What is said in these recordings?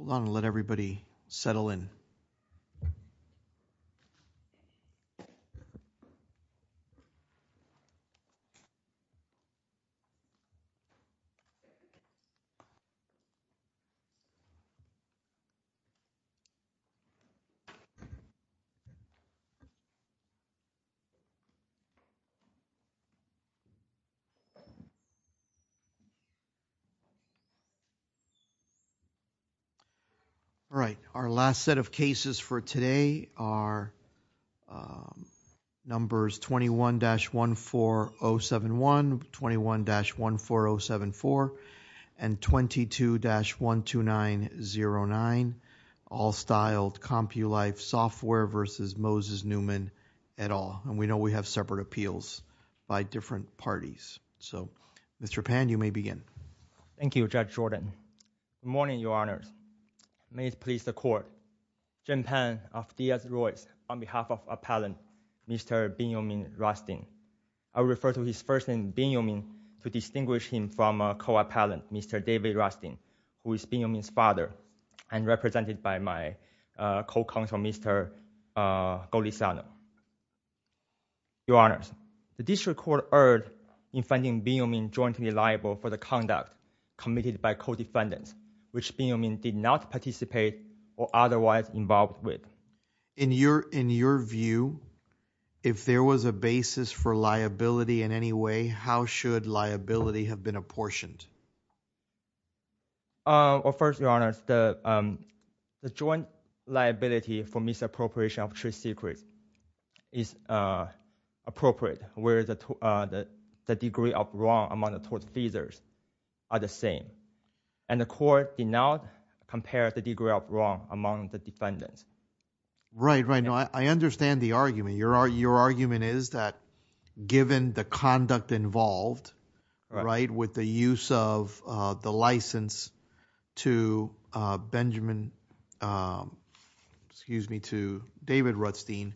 Hold on, I'll let everybody settle in. All right, our last set of cases for today are numbers 21-14071, 21-14074, and 22-12909, all styled Compulife Software v. Moses Newman, et al., and we know we have separate appeals by different parties. So Mr. Pan, you may begin. Thank you, Judge Jordan. Good morning, Your Honors. May it please the Court, Jim Pan of Diaz-Royce, on behalf of Appellant Mr. Benjamin Rustin, I refer to his first name Benjamin to distinguish him from a co-appellant, Mr. David Rustin, who is Benjamin's father and represented by my co-counsel, Mr. Golisano. Your Honors, the district court erred in finding Benjamin jointly liable for the conduct committed by co-defendants, which Benjamin did not participate or otherwise involved with. In your view, if there was a basis for liability in any way, how should liability have been apportioned? Well, first, Your Honors, the joint liability for misappropriation of trade secrets is appropriate, whereas the degree of wrong among the tort defenders are the same. And the Court did not compare the degree of wrong among the defendants. Right, right. Now, I understand the argument. Your argument is that given the conduct involved, right, with the use of the license to Benjamin, excuse me, to David Rustin,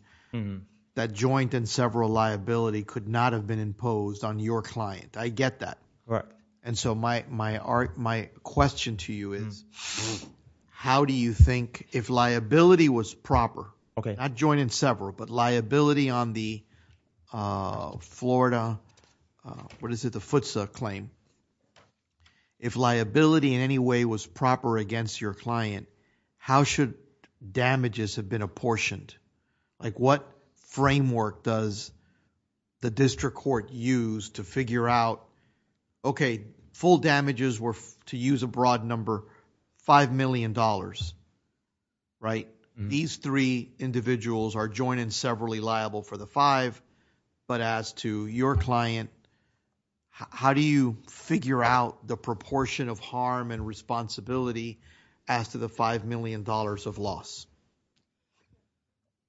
that joint and several liability could not have been imposed on your client. I get that. Right. And so my question to you is, how do you think, if liability was proper, not joint and several, but liability on the Florida, what is it, the FTSA claim, if liability in any way was proper against your client, how should damages have been apportioned? Like what framework does the district court use to figure out, okay, full damages were to use a broad number, $5 million, right? These three individuals are joint and severally liable for the five, but as to your client, how do you figure out the proportion of harm and responsibility as to the $5 million of loss?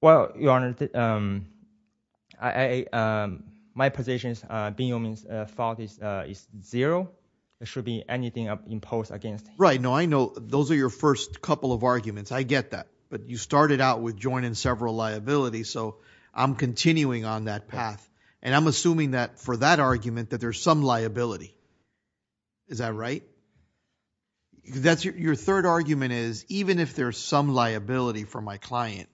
Well, Your Honor, my position is Benjamin's fault is zero. It should be anything imposed against him. Right. I get that. But you started out with joint and several liability, so I'm continuing on that path. And I'm assuming that for that argument that there's some liability. Is that right? Your third argument is, even if there's some liability for my client,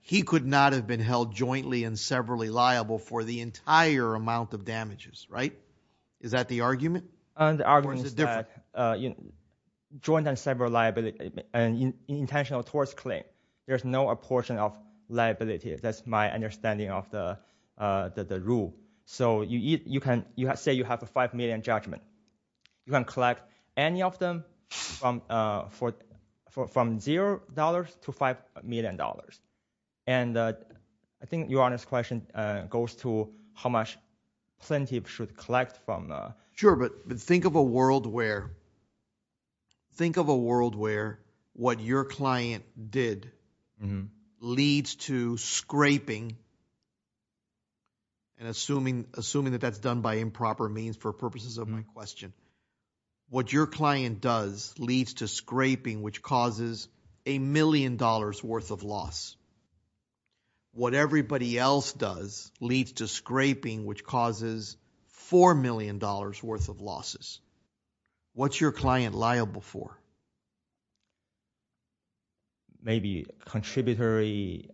he could not have been held jointly and severally liable for the entire amount of damages, right? Is that the argument? The argument is that joint and sever liability, intentional towards claim, there's no apportion of liability. That's my understanding of the rule. So you can say you have a $5 million judgment, you can collect any of them from zero dollars to $5 million. And I think Your Honor's question goes to how much plaintiff should collect from- Sure, but think of a world where, think of a world where what your client did leads to scraping and assuming that that's done by improper means for purposes of my question. What your client does leads to scraping, which causes a million dollars worth of loss. What everybody else does leads to scraping, which causes $4 million worth of losses. What's your client liable for? Maybe contributory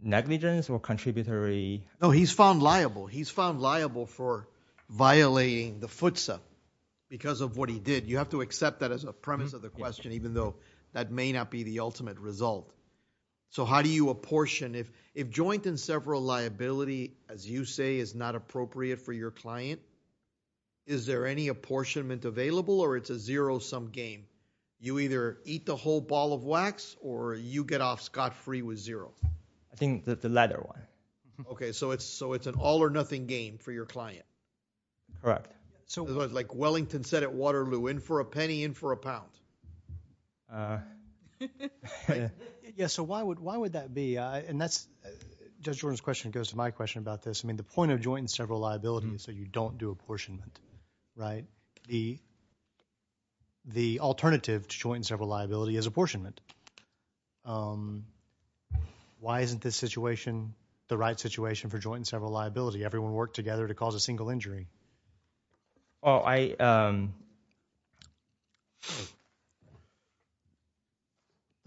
negligence or contributory- No, he's found liable. He's found liable for violating the FTSA because of what he did. You have to accept that as a premise of the question, even though that may not be the ultimate result. So how do you apportion? If joint and several liability, as you say, is not appropriate for your client, is there any apportionment available or it's a zero-sum game? You either eat the whole ball of wax or you get off scot-free with zero. I think the latter one. Okay, so it's an all or nothing game for your client. Correct. Like Wellington said at Waterloo, in for a penny, in for a pound. Yes, so why would that be? Judge Jordan's question goes to my question about this. The point of joint and several liability is that you don't do apportionment. The alternative to joint and several liability is apportionment. Why isn't this situation the right situation for joint and several liability? Everyone worked together to cause a single injury. The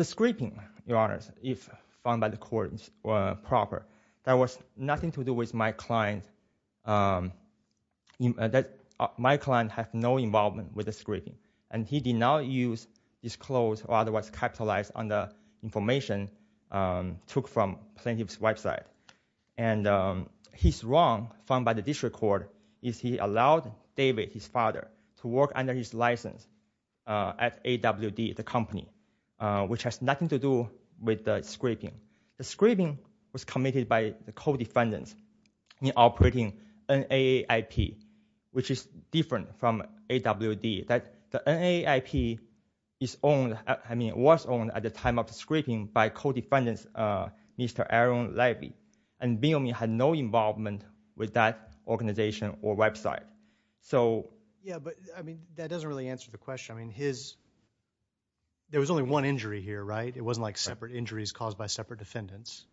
scripting, Your Honor, if found by the court proper, that was nothing to do with my client. My client had no involvement with the scripting. And he did not use, disclose, or otherwise capitalize on the information took from plaintiff's website. And his wrong found by the district court is he allowed David, his father, to work under his license at AWD, the company, which has nothing to do with the scripting. The scripting was committed by the co-defendants in operating NAIP, which is different from AWD. The NAIP was owned at the time of the scripting by co-defendants, Mr. Aaron Levy. And B&O had no involvement with that organization or website. Yeah, but that doesn't really answer the question. There was only one injury here, right? It wasn't like separate injuries caused by separate defendants.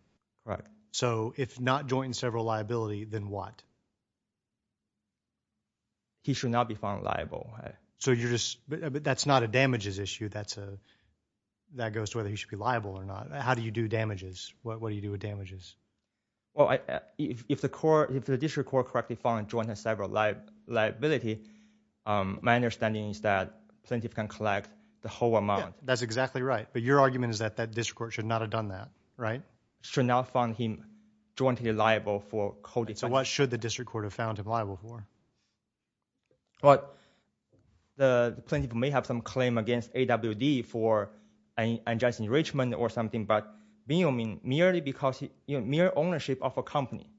So if not joint and several liability, then what? He should not be found liable. But that's not a damages issue. That goes to whether he should be liable or not. How do you do damages? What do you do with damages? Well, if the district court correctly found joint and several liability, my understanding is that plaintiff can collect the whole amount. That's exactly right. But your argument is that that district court should not have done that, right? Should not find him jointly liable for co-defendant. So what should the district court have found him liable for? Well, the plaintiff may have some claim against AWD for unjust enrichment or something. But B&O merely because mere ownership of a company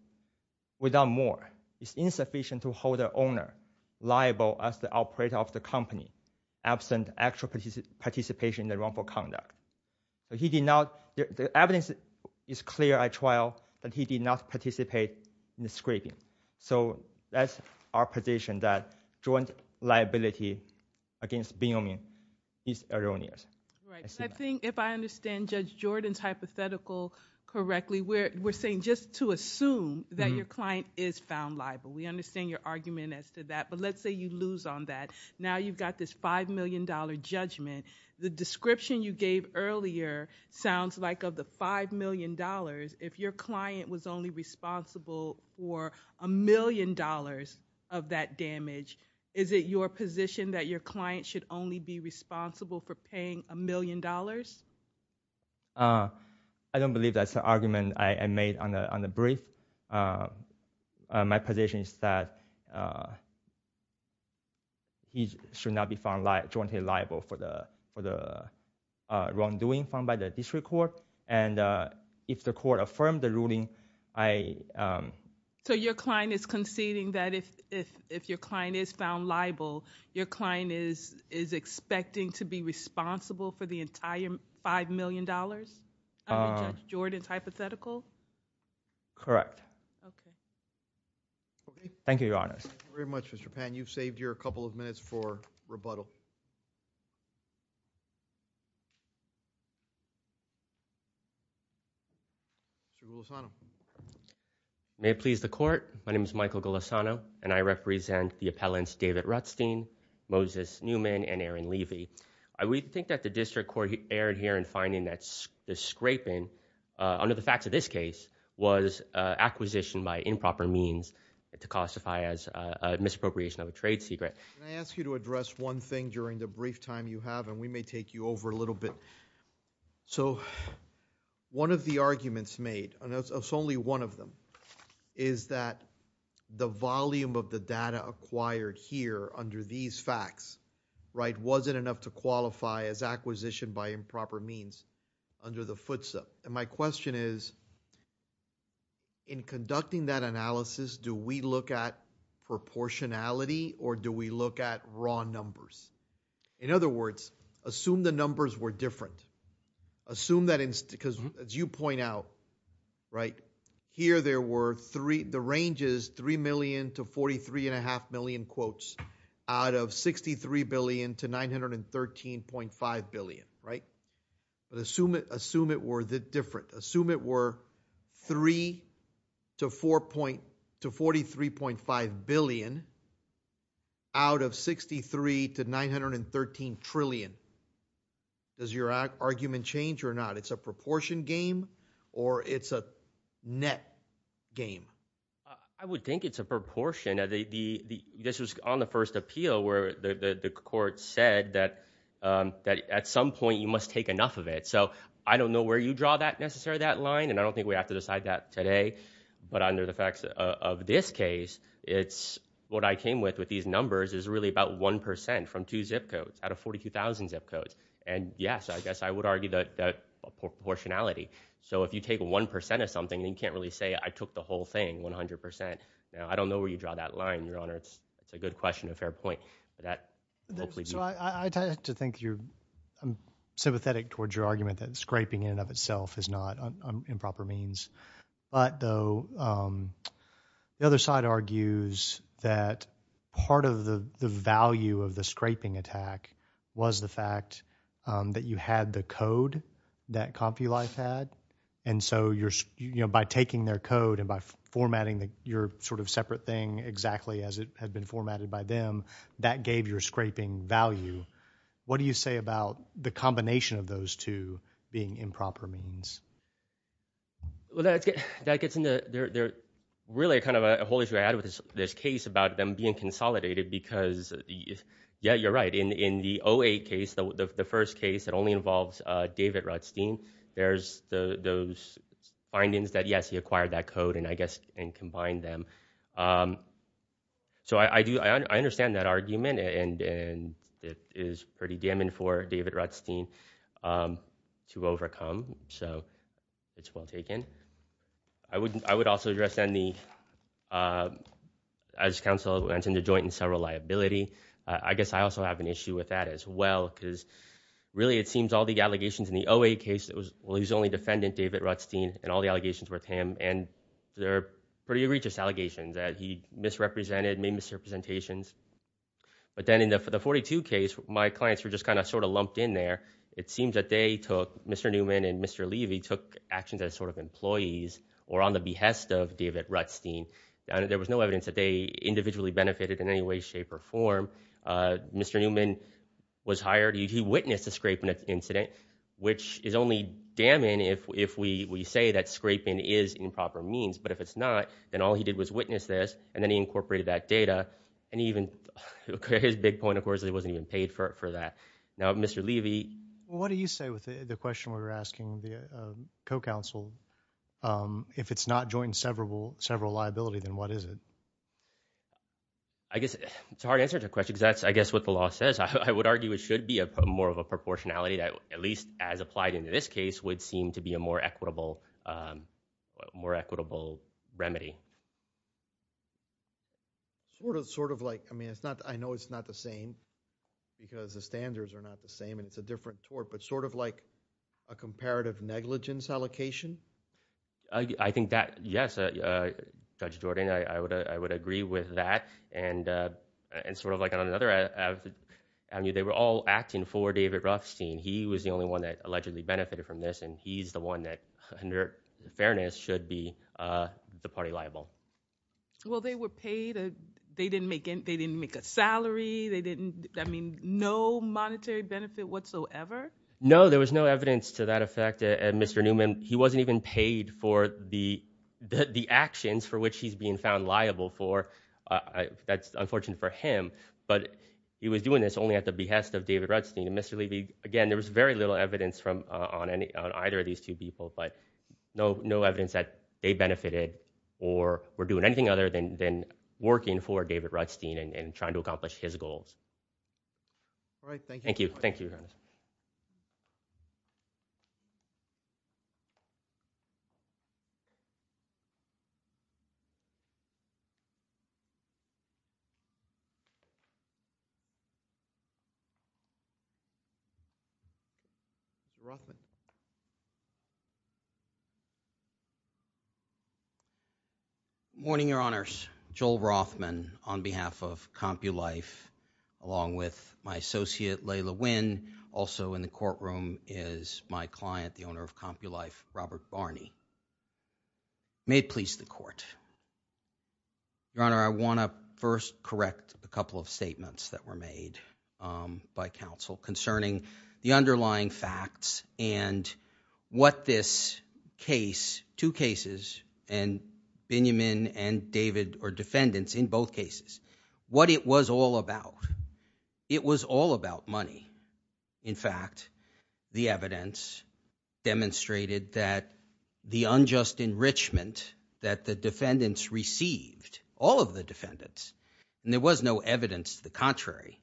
without more is insufficient to hold the owner liable as the operator of the company absent actual participation in the wrongful conduct. The evidence is clear at trial that he did not participate in the scraping. So that's our position that joint liability against B&O is erroneous. Right. I think if I understand Judge Jordan's hypothetical correctly, we're saying just to assume that your client is found liable. We understand your argument as to that. But let's say you lose on that. Now you've got this $5 million judgment. The description you gave earlier sounds like of the $5 million. If your client was only responsible for a million dollars of that damage, is it your position that your client should only be responsible for paying a million dollars? I don't believe that's the argument I made on the brief. My position is that he should not be found jointly liable for the wrongdoing found by the district court. And if the court affirmed the ruling, I... So your client is conceding that if your client is found liable, your client is expecting to be responsible for the entire $5 million under Judge Jordan's hypothetical? Correct. Okay. Thank you, Your Honors. Thank you very much, Mr. Pan. You've saved your couple of minutes for rebuttal. Mr. Golisano. May it please the court. My name is Michael Golisano, and I represent the appellants David Rutstein, Moses Newman, and Aaron Levy. I would think that the district court erred here in finding that the scraping under the facts of this case was acquisition by improper means to classify as a misappropriation of a trade secret. Can I ask you to address one thing during the brief time you have, and we may take you over a little bit. So one of the arguments made, and it's only one of them, is that the volume of the data acquired here under these facts, right, wasn't enough to qualify as acquisition by improper means under the FTSA. And my question is, in conducting that analysis, do we look at proportionality, or do we look at raw numbers? In other words, assume the numbers were different. Assume that, because as you point out, right, here there were three, the range is $3 million to 43.5 million quotes out of $63 billion to $913.5 billion, right? But assume it were different. Assume it were $3 to $43.5 billion out of $63 to $913 trillion. Does your argument change or not? It's a proportion game, or it's a net game? I would think it's a proportion. This was on the first appeal where the court said that at some point you must take enough of it. So I don't know where you draw that necessarily, that line, and I don't think we have to decide that today. But under the facts of this case, it's what I came with with these numbers is really about 1% from two zip codes out of 42,000 zip codes. And yes, I guess I would argue that proportionality. So if you take 1% of something, then you can't really say I took the whole thing, 100%. Now, I don't know where you draw that line, Your Honor. It's a good question, a fair point. So I tend to think you're sympathetic towards your argument that scraping in and of itself is not improper means. But though the other side argues that part of the value of the scraping attack was the fact that you had the code that CompuLife had. And so by taking their code and by formatting your sort of separate thing exactly as it had been formatted by them, that gave your scraping value. What do you say about the combination of those two being improper means? Well, that gets into really kind of a whole issue I had with this case about them being consolidated because, yeah, you're right. In the 08 case, the first case, it only involves David Rutstein. There's those findings that, yes, he acquired that code, and I guess combined them. So I understand that argument, and it is pretty damning for David Rutstein to overcome. So it's well taken. I would also address, as counsel mentioned, the joint and several liability. I guess I also have an issue with that as well because really it seems all the allegations in the 08 case, well, he's the only defendant, David Rutstein, and all the allegations were with him, and they're pretty egregious allegations that he misrepresented, made misrepresentations. But then in the 42 case, my clients were just kind of sort of lumped in there. It seems that they took Mr. Newman and Mr. Levy took actions as sort of employees or on the behest of David Rutstein. There was no evidence that they individually benefited in any way, shape, or form. Mr. Newman was hired. He witnessed the scraping incident, which is only damning if we say that scraping is improper means. But if it's not, then all he did was witness this, and then he incorporated that data. And even his big point, of course, he wasn't even paid for that. Now, Mr. Levy. What do you say with the question we were asking via co-counsel? If it's not joint and severable liability, then what is it? I guess it's a hard answer to the question because that's, I guess, what the law says. I would argue it should be more of a proportionality, at least as applied in this case, would seem to be a more equitable remedy. Sort of like, I mean, I know it's not the same because the standards are not the same, and it's a different tort, but sort of like a comparative negligence allocation? I think that, yes, Judge Jordan, I would agree with that. And sort of like on another avenue, they were all acting for David Rutstein. He was the only one that allegedly benefited from this, and he's the one that, under fairness, should be the party liable. Well, they were paid. They didn't make a salary. They didn't, I mean, no monetary benefit whatsoever? No, there was no evidence to that effect. Mr. Newman, he wasn't even paid for the actions for which he's being found liable for. That's unfortunate for him. But he was doing this only at the behest of David Rutstein. And Mr. Levy, again, there was very little evidence on either of these two people, but no evidence that they benefited or were doing anything other than working for David Rutstein and trying to accomplish his goals. All right, thank you. Thank you. Rothman. Good morning, Your Honors. Joel Rothman on behalf of CompuLife, along with my associate Layla Winn. Also in the courtroom is my client, the owner of CompuLife, Robert Barney. May it please the Court. Your Honor, I want to first correct a couple of statements that were made by counsel concerning the underlying facts and what this case, two cases, and Binyamin and David are defendants in both cases, what it was all about. It was all about money. In fact, the evidence demonstrated that the unjust enrichment that the defendants received, all of the defendants, and there was no evidence to the contrary,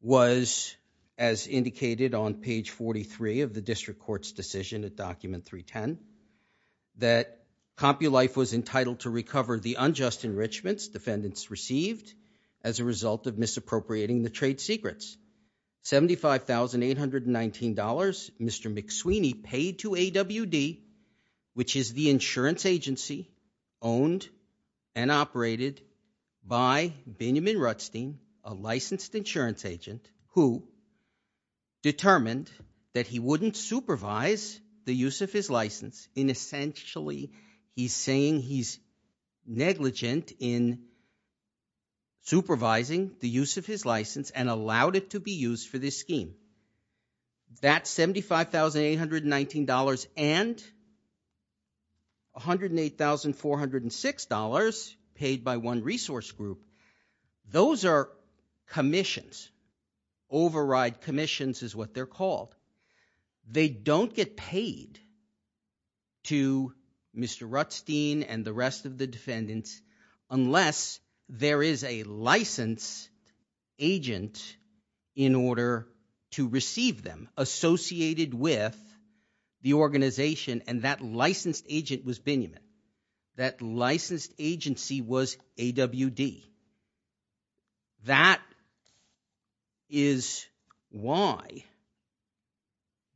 was, as indicated on page 43 of the district court's decision at document 310, that CompuLife was entitled to recover the unjust enrichments defendants received as a result of misappropriating the trade secrets. $75,819, Mr. McSweeney paid to AWD, which is the insurance agency owned and operated by Binyamin Rutstein, a licensed insurance agent, who determined that he wouldn't supervise the use of his license in essentially he's saying he's negligent in supervising the use of his license and allowed it to be used for this scheme. That $75,819 and $108,406 paid by one resource group, those are commissions. Override commissions is what they're called. They don't get paid to Mr. Rutstein and the rest of the defendants unless there is a licensed agent in order to receive them associated with the organization, and that licensed agent was Binyamin. That licensed agency was AWD. That is why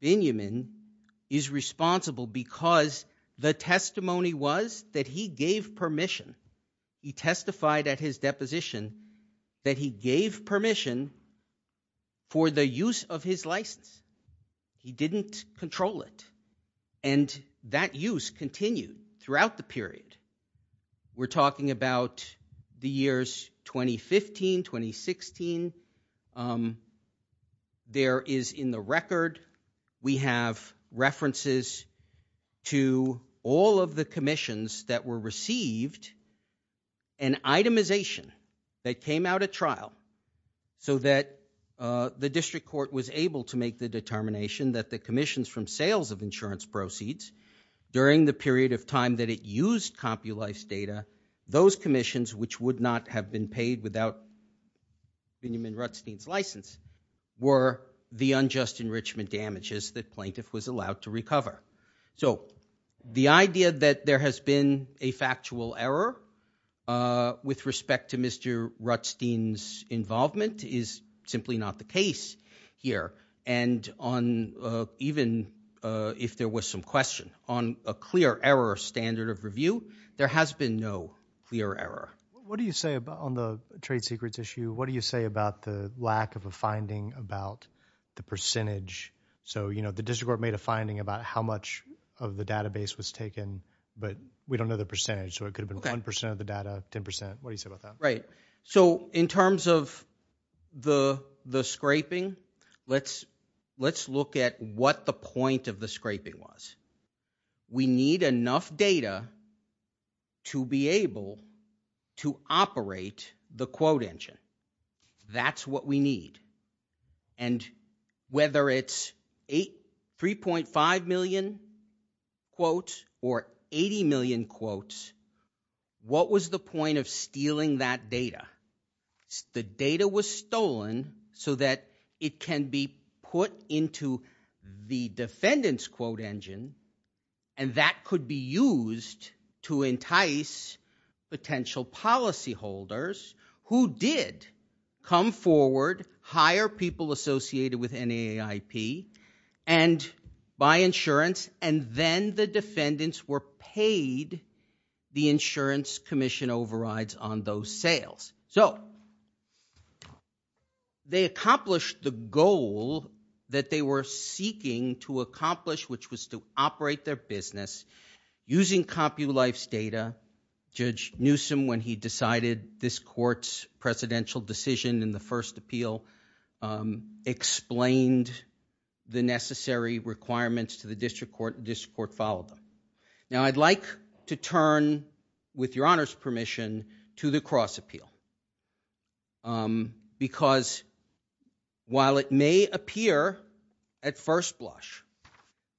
Binyamin is responsible because the testimony was that he gave permission. He testified at his deposition that he gave permission for the use of his license. He didn't control it, and that use continued throughout the period. We're talking about the years 2015, 2016. There is in the record, we have references to all of the commissions that were received and itemization that came out at trial so that the district court was able to make the determination that the commissions from sales of insurance proceeds during the period of time that it used CompuLife's data, those commissions which would not have been paid without Binyamin Rutstein's license were the unjust enrichment damages that plaintiff was allowed to recover. The idea that there has been a factual error with respect to Mr. Rutstein's involvement is simply not the case here. Even if there was some question on a clear error standard of review, there has been no clear error. What do you say on the trade secrets issue? What do you say about the lack of a finding about the percentage? The district court made a finding about how much of the database was taken, but we don't know the percentage. It could have been 1% of the data, 10%. What do you say about that? In terms of the scraping, let's look at what the point of the scraping was. We need enough data to be able to operate the quote engine. That's what we need. And whether it's 3.5 million quotes or 80 million quotes, what was the point of stealing that data? The data was stolen so that it can be put into the defendant's quote engine, and that could be used to entice potential policyholders who did come forward, hire people associated with NAIP, and buy insurance, and then the defendants were paid the insurance commission overrides on those sales. So they accomplished the goal that they were seeking to accomplish, which was to operate their business using CompuLife's data. Judge Newsome, when he decided this court's presidential decision in the first appeal, explained the necessary requirements to the district court, and the district court followed them. Now I'd like to turn, with your honor's permission, to the cross appeal. Because while it may appear at first blush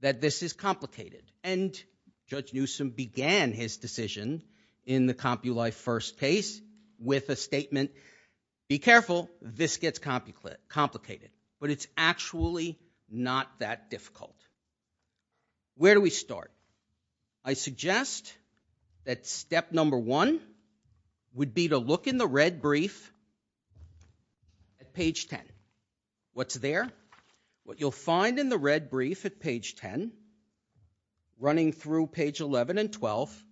that this is complicated, and Judge Newsome began his decision in the CompuLife first case with a statement, be careful, this gets complicated. But it's actually not that difficult. Where do we start? I suggest that step number one would be to look in the red brief at page 10. What's there? What you'll find in the red brief at page 10, running through page 11 and 12,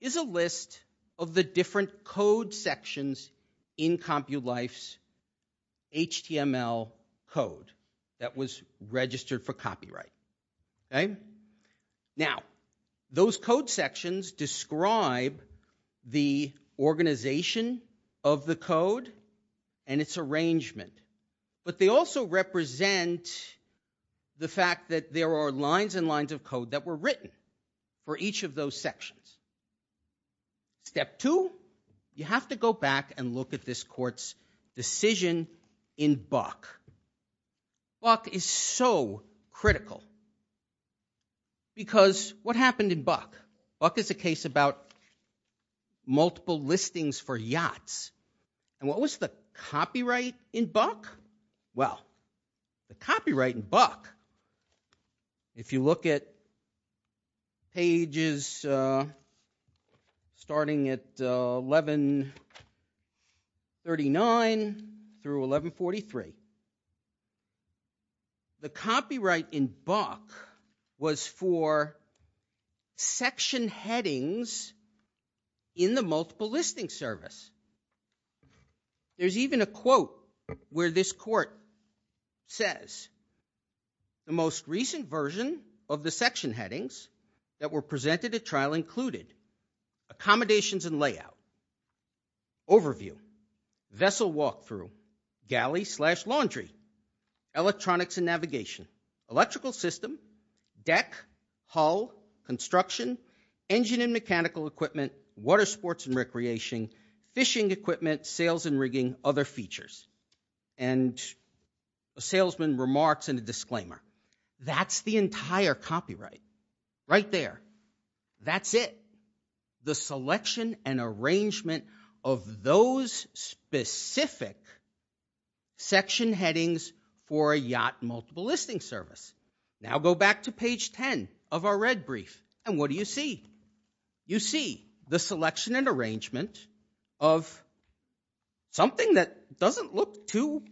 is a list of the different code sections in CompuLife's HTML code that was registered for copyright. Now, those code sections describe the organization of the code and its arrangement. But they also represent the fact that there are lines and lines of code that were written for each of those sections. Step two, you have to go back and look at this court's decision in Buck. Buck is so critical. Because what happened in Buck? Buck is a case about multiple listings for yachts. And what was the copyright in Buck? Well, the copyright in Buck, if you look at pages starting at 1139 through 1143, the copyright in Buck was for section headings in the multiple listing service. There's even a quote where this court says, the most recent version of the section headings that were presented at trial included accommodations and layout, overview, vessel walkthrough, galley slash laundry, electronics and navigation, electrical system, deck, hull, construction, engine and mechanical equipment, water sports and recreation, fishing equipment, sails and rigging, other features. And a salesman remarks in a disclaimer, that's the entire copyright. Right there. That's it. The selection and arrangement of those specific section headings for a yacht multiple listing service. Now go back to page 10 of our red brief. And what do you see? You see the selection and arrangement of something that doesn't look too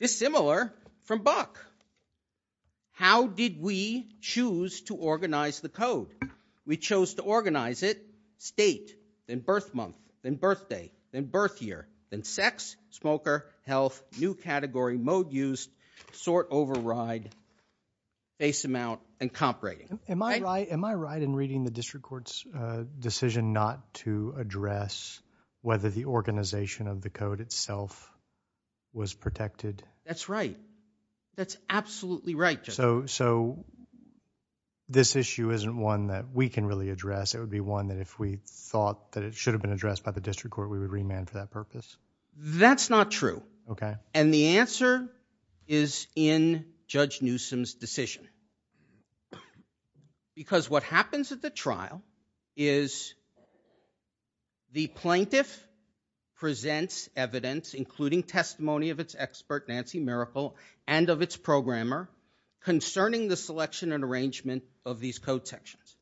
dissimilar from Buck. How did we choose to organize the code? We chose to organize it state, then birth month, then birthday, then birth year, then sex, smoker, health, new category, mode used, sort override, base amount, and comp rating. Am I right in reading the district court's decision not to address whether the organization of the code itself was protected? That's right. That's absolutely right. So this issue isn't one that we can really address. It would be one that if we thought that it should have been addressed by the district court, we would remand for that purpose? That's not true. And the answer is in Judge Newsom's decision. Because what happens at the trial is the plaintiff presents evidence, including testimony of its expert, Nancy Miracle, and of its programmer, concerning the selection and arrangement of these code sections.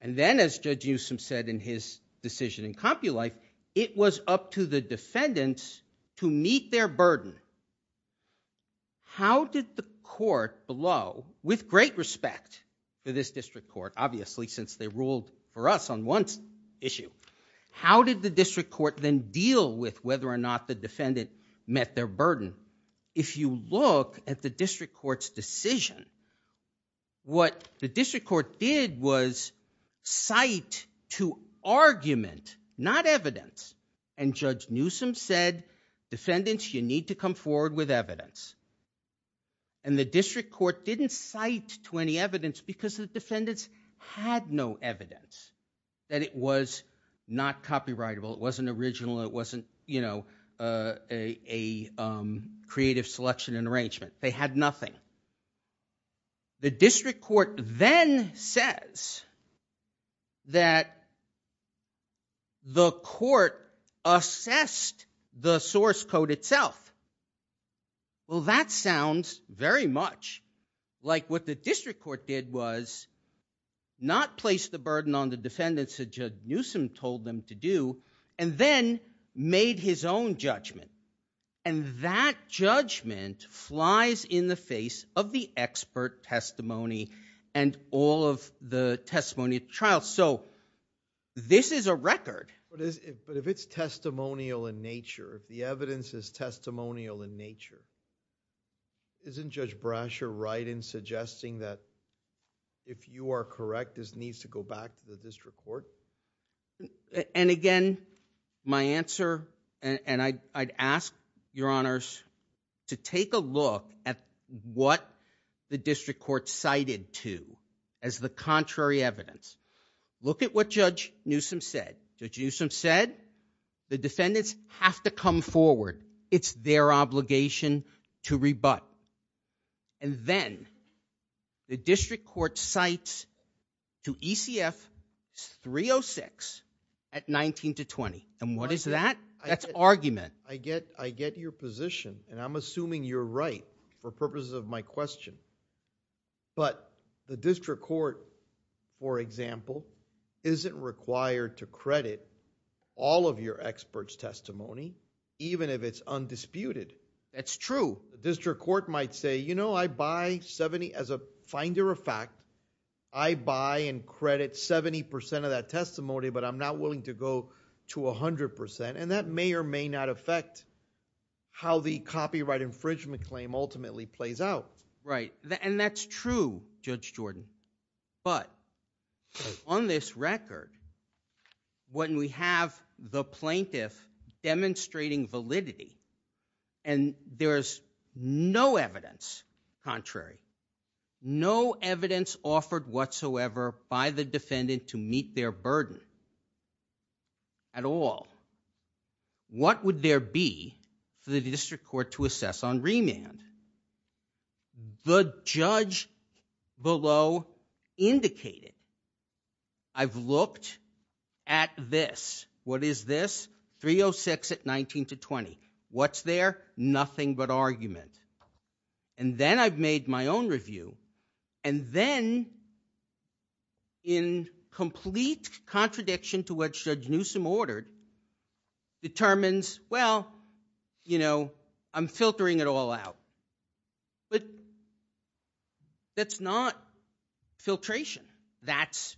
And then, as Judge Newsom said in his decision in CompuLife, it was up to the defendants to meet their burden. How did the court below, with great respect to this district court, obviously since they ruled for us on one issue, how did the district court then deal with whether or not the defendant met their burden? If you look at the district court's decision, what the district court did was cite to argument, not evidence, and Judge Newsom said, defendants, you need to come forward with evidence. And the district court didn't cite to any evidence because the defendants had no evidence that it was not copyrightable, it wasn't original, it wasn't a creative selection and arrangement. They had nothing. The district court then says that the court assessed the source code itself. Well, that sounds very much like what the district court did was not place the burden on the defendants that Judge Newsom told them to do, and then made his own judgment. And that judgment flies in the face of the expert testimony and all of the testimony of the trial. So this is a record. But if it's testimonial in nature, if the evidence is testimonial in nature, isn't Judge Brasher right in suggesting that if you are correct, this needs to go back to the district court? And again, my answer, and I'd ask, Your Honors, to take a look at what the district court cited to as the contrary evidence. Look at what Judge Newsom said. Judge Newsom said the defendants have to come forward. It's their obligation to rebut. And then the district court cites to ECF 306 at 19 to 20. And what is that? That's argument. I get your position, and I'm assuming you're right for purposes of my question. But the district court, for example, isn't required to credit all of your experts' testimony even if it's undisputed. That's true. The district court might say, you know, I buy 70. As a finder of fact, I buy and credit 70% of that testimony, but I'm not willing to go to 100%. And that may or may not affect how the copyright infringement claim ultimately plays out. Right. And that's true, Judge Jordan. But on this record, when we have the plaintiff demonstrating validity and there is no evidence contrary, no evidence offered whatsoever by the defendant to meet their burden at all, what would there be for the district court to assess on remand? The judge below indicated, I've looked at this. What is this? 306 at 19 to 20. What's there? Nothing but argument. And then I've made my own review, and then in complete contradiction to what Judge Newsom ordered, determines, well, you know, I'm filtering it all out. But that's not filtration. That's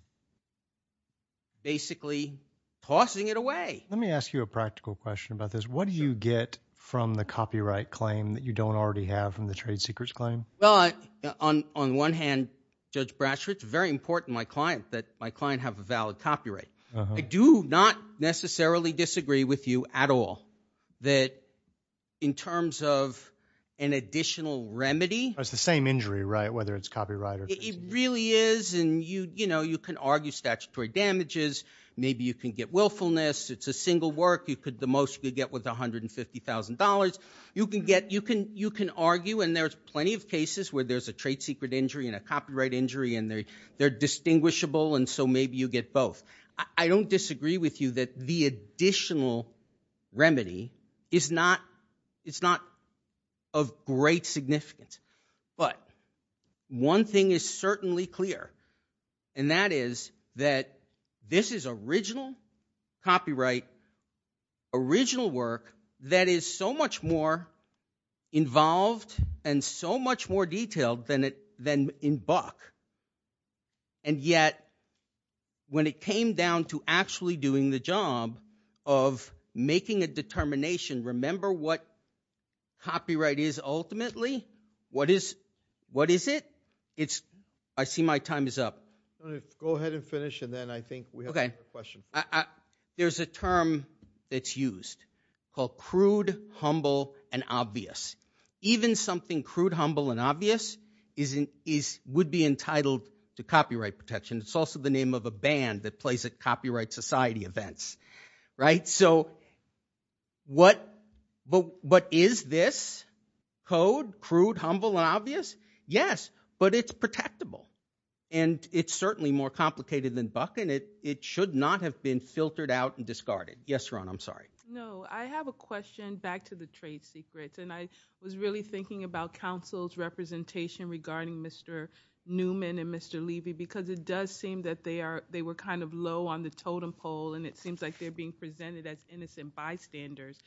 basically tossing it away. Let me ask you a practical question about this. What do you get from the copyright claim that you don't already have from the trade secrets claim? Well, on one hand, Judge Brasher, it's very important to my client that my client have a valid copyright. I do not necessarily disagree with you at all that in terms of an additional remedy. It's the same injury, right, whether it's copyright or trade secrets. It really is, and, you know, you can argue statutory damages. Maybe you can get willfulness. It's a single work. The most you could get was $150,000. You can argue, and there's plenty of cases where there's a trade secret injury and a copyright injury, and they're distinguishable, and so maybe you get both. I don't disagree with you that the additional remedy is not of great significance. But one thing is certainly clear, and that is that this is original copyright, original work that is so much more involved and so much more detailed than in Buck, and yet when it came down to actually doing the job of making a determination, remember what copyright is ultimately? What is it? I see my time is up. Go ahead and finish, and then I think we have time for questions. There's a term that's used called crude, humble, and obvious. Even something crude, humble, and obvious would be entitled to copyright protection. It's also the name of a band that plays at copyright society events, right? So what is this code, crude, humble, and obvious? Yes, but it's protectable, and it's certainly more complicated than Buck, and it should not have been filtered out and discarded. Yes, Ron, I'm sorry. No, I have a question back to the trade secrets, and I was really thinking about counsel's representation regarding Mr. Newman and Mr. Levy because it does seem that they were kind of low on the totem pole, and it seems like they're being presented as innocent bystanders.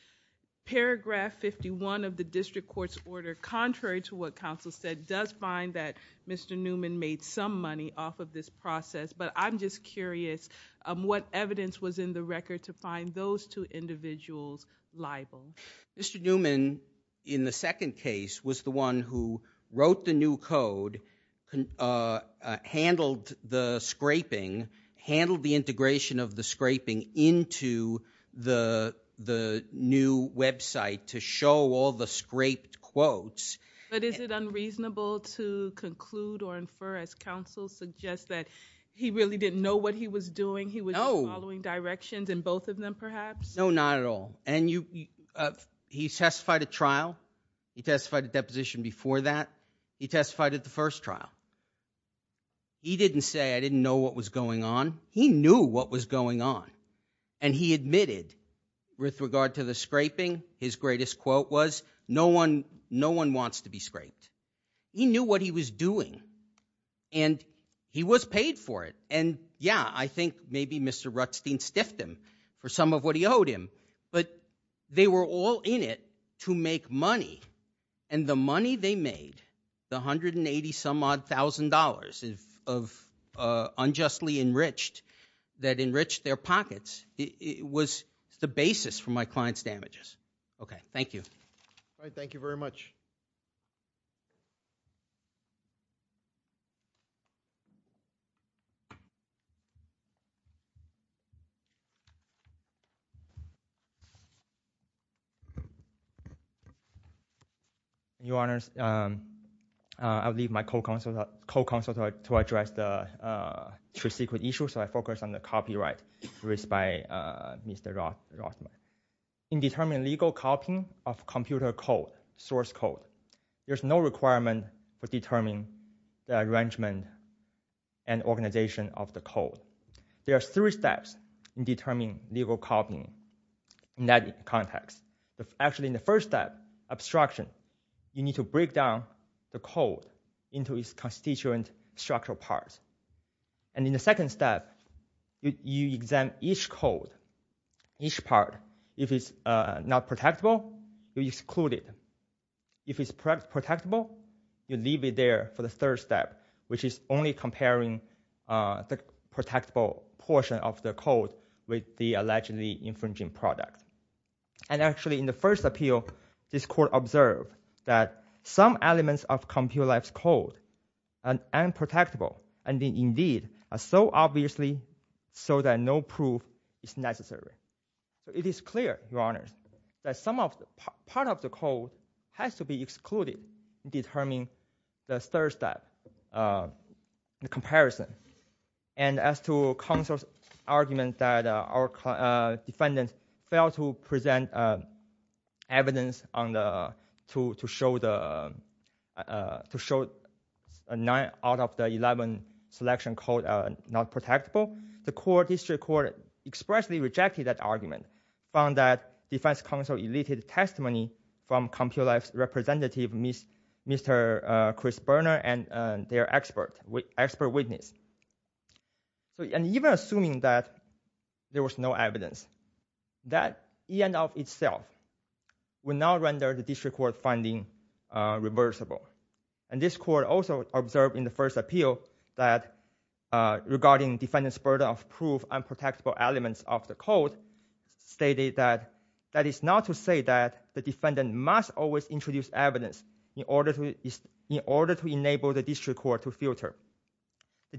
Paragraph 51 of the district court's order, contrary to what counsel said, does find that Mr. Newman made some money off of this process, but I'm just curious what evidence was in the record to find those two individuals liable. Mr. Newman, in the second case, was the one who wrote the new code, handled the scraping, handled the integration of the scraping into the new website to show all the scraped quotes. But is it unreasonable to conclude or infer, as counsel suggests, that he really didn't know what he was doing? No. He was just following directions in both of them, perhaps? No, not at all. He testified at trial. He testified at deposition before that. He testified at the first trial. He didn't say, I didn't know what was going on. He knew what was going on, and he admitted, with regard to the scraping, his greatest quote was, no one wants to be scraped. He knew what he was doing, and he was paid for it. And, yeah, I think maybe Mr. Rutstein stiffed him for some of what he owed him, but they were all in it to make money, and the money they made, the $180-some-odd thousand of unjustly enriched that enriched their pockets, was the basis for my client's damages. Okay, thank you. All right, thank you very much. Your Honors, I'll leave my co-counsel to address the two secret issues, so I focus on the copyright raised by Mr. Rothman. In determining legal copying of computer code, source code, there's no requirement for determining the arrangement and organization of the code. There are three steps in determining legal copying in that context. Actually, in the first step, obstruction. You need to break down the code into its constituent structural parts. And in the second step, you examine each code, each part. If it's not protectable, you exclude it. If it's protectable, you leave it there for the third step, which is only comparing the protectable portion of the code with the allegedly infringing product. And actually, in the first appeal, this court observed that some elements of computerized code are unprotectable and indeed are so obviously so that no proof is necessary. It is clear, Your Honors, that some of the, part of the code has to be excluded in determining the third step, the comparison. And as to counsel's argument that our defendant failed to present evidence to show a nine out of the 11 selection code not protectable, the court, district court, expressly rejected that argument. Found that defense counsel elicited testimony from computerized representative Mr. Chris Berner and their expert witness. And even assuming that there was no evidence, that in and of itself would not render the district court finding reversible. And this court also observed in the first appeal that regarding defendant's burden of proof unprotectable elements of the code stated that that is not to say that the defendant must always introduce evidence in order to enable the district court to filter. The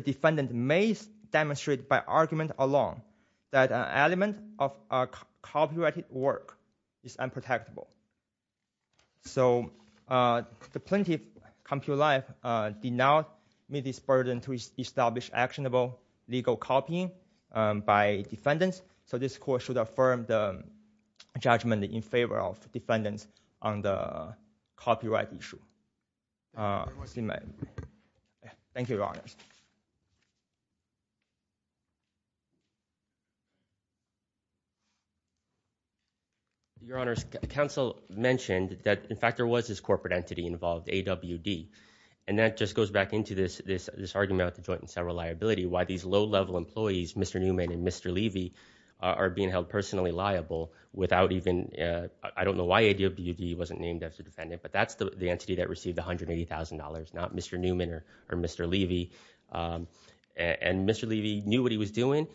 defendant may demonstrate by argument alone that an element of copyrighted work is unprotectable. So the plaintiff, Compute Life, did not meet this burden to establish actionable legal copying by defendants. So this court should affirm the judgment in favor of defendants on the copyright issue. Was he mad? Thank you, Your Honors. Your Honors, counsel mentioned that, in fact, there was this corporate entity involved, AWD. And that just goes back into this argument about the joint and several liability, why these low level employees, Mr. Newman and Mr. Levy, are being held personally liable without even, I don't know why AWD wasn't named as a defendant, but that's the entity that received $180,000, not Mr. Newman or Mr. Levy. And Mr. Levy knew what he was doing,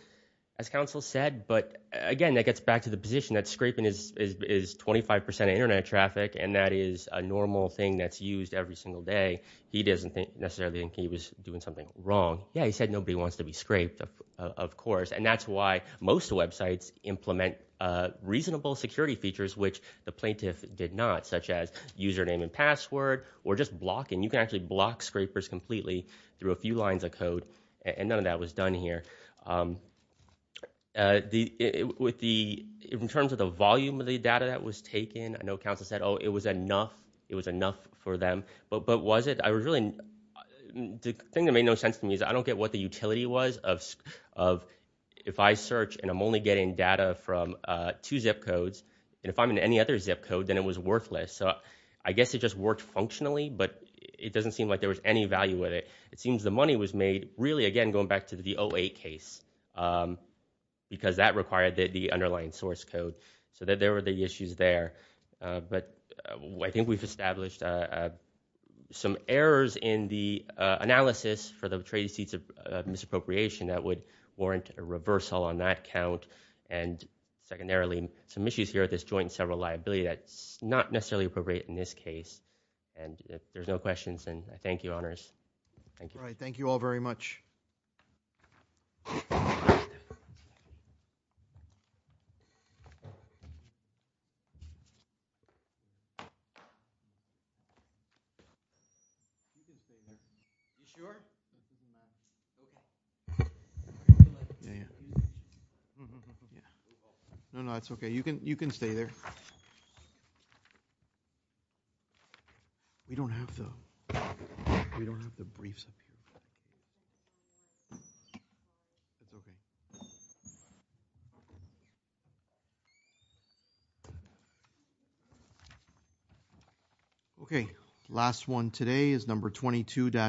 as counsel said. But again, that gets back to the position that scraping is 25% of internet traffic and that is a normal thing that's used every single day. He doesn't necessarily think he was doing something wrong. Yeah, he said nobody wants to be scraped, of course. And that's why most websites implement reasonable security features, which the plaintiff did not, such as username and password or just blocking. You can actually block scrapers completely through a few lines of code. And none of that was done here. In terms of the volume of the data that was taken, I know counsel said, oh, it was enough. It was enough for them. But was it? I was really, the thing that made no sense to me is I don't get what the utility was of if I search and I'm only getting data from two zip codes. And if I'm in any other zip code, then it was worthless. I guess it just worked functionally, but it doesn't seem like there was any value with it. It seems the money was made, really, again, going back to the 08 case, because that required the underlying source code. So there were the issues there. But I think we've established some errors in the analysis for the trade receipts of misappropriation that would warrant a reversal on that count. And secondarily, some issues here with this joint and several liability that's not necessarily appropriate in this case. And if there's no questions, then I thank you, honors. Thank you. All right, thank you all very much. Yeah, yeah. Yeah. No, no, that's OK. You can stay there. We don't have to. We don't have to brief something. OK, last one today is number 22-3.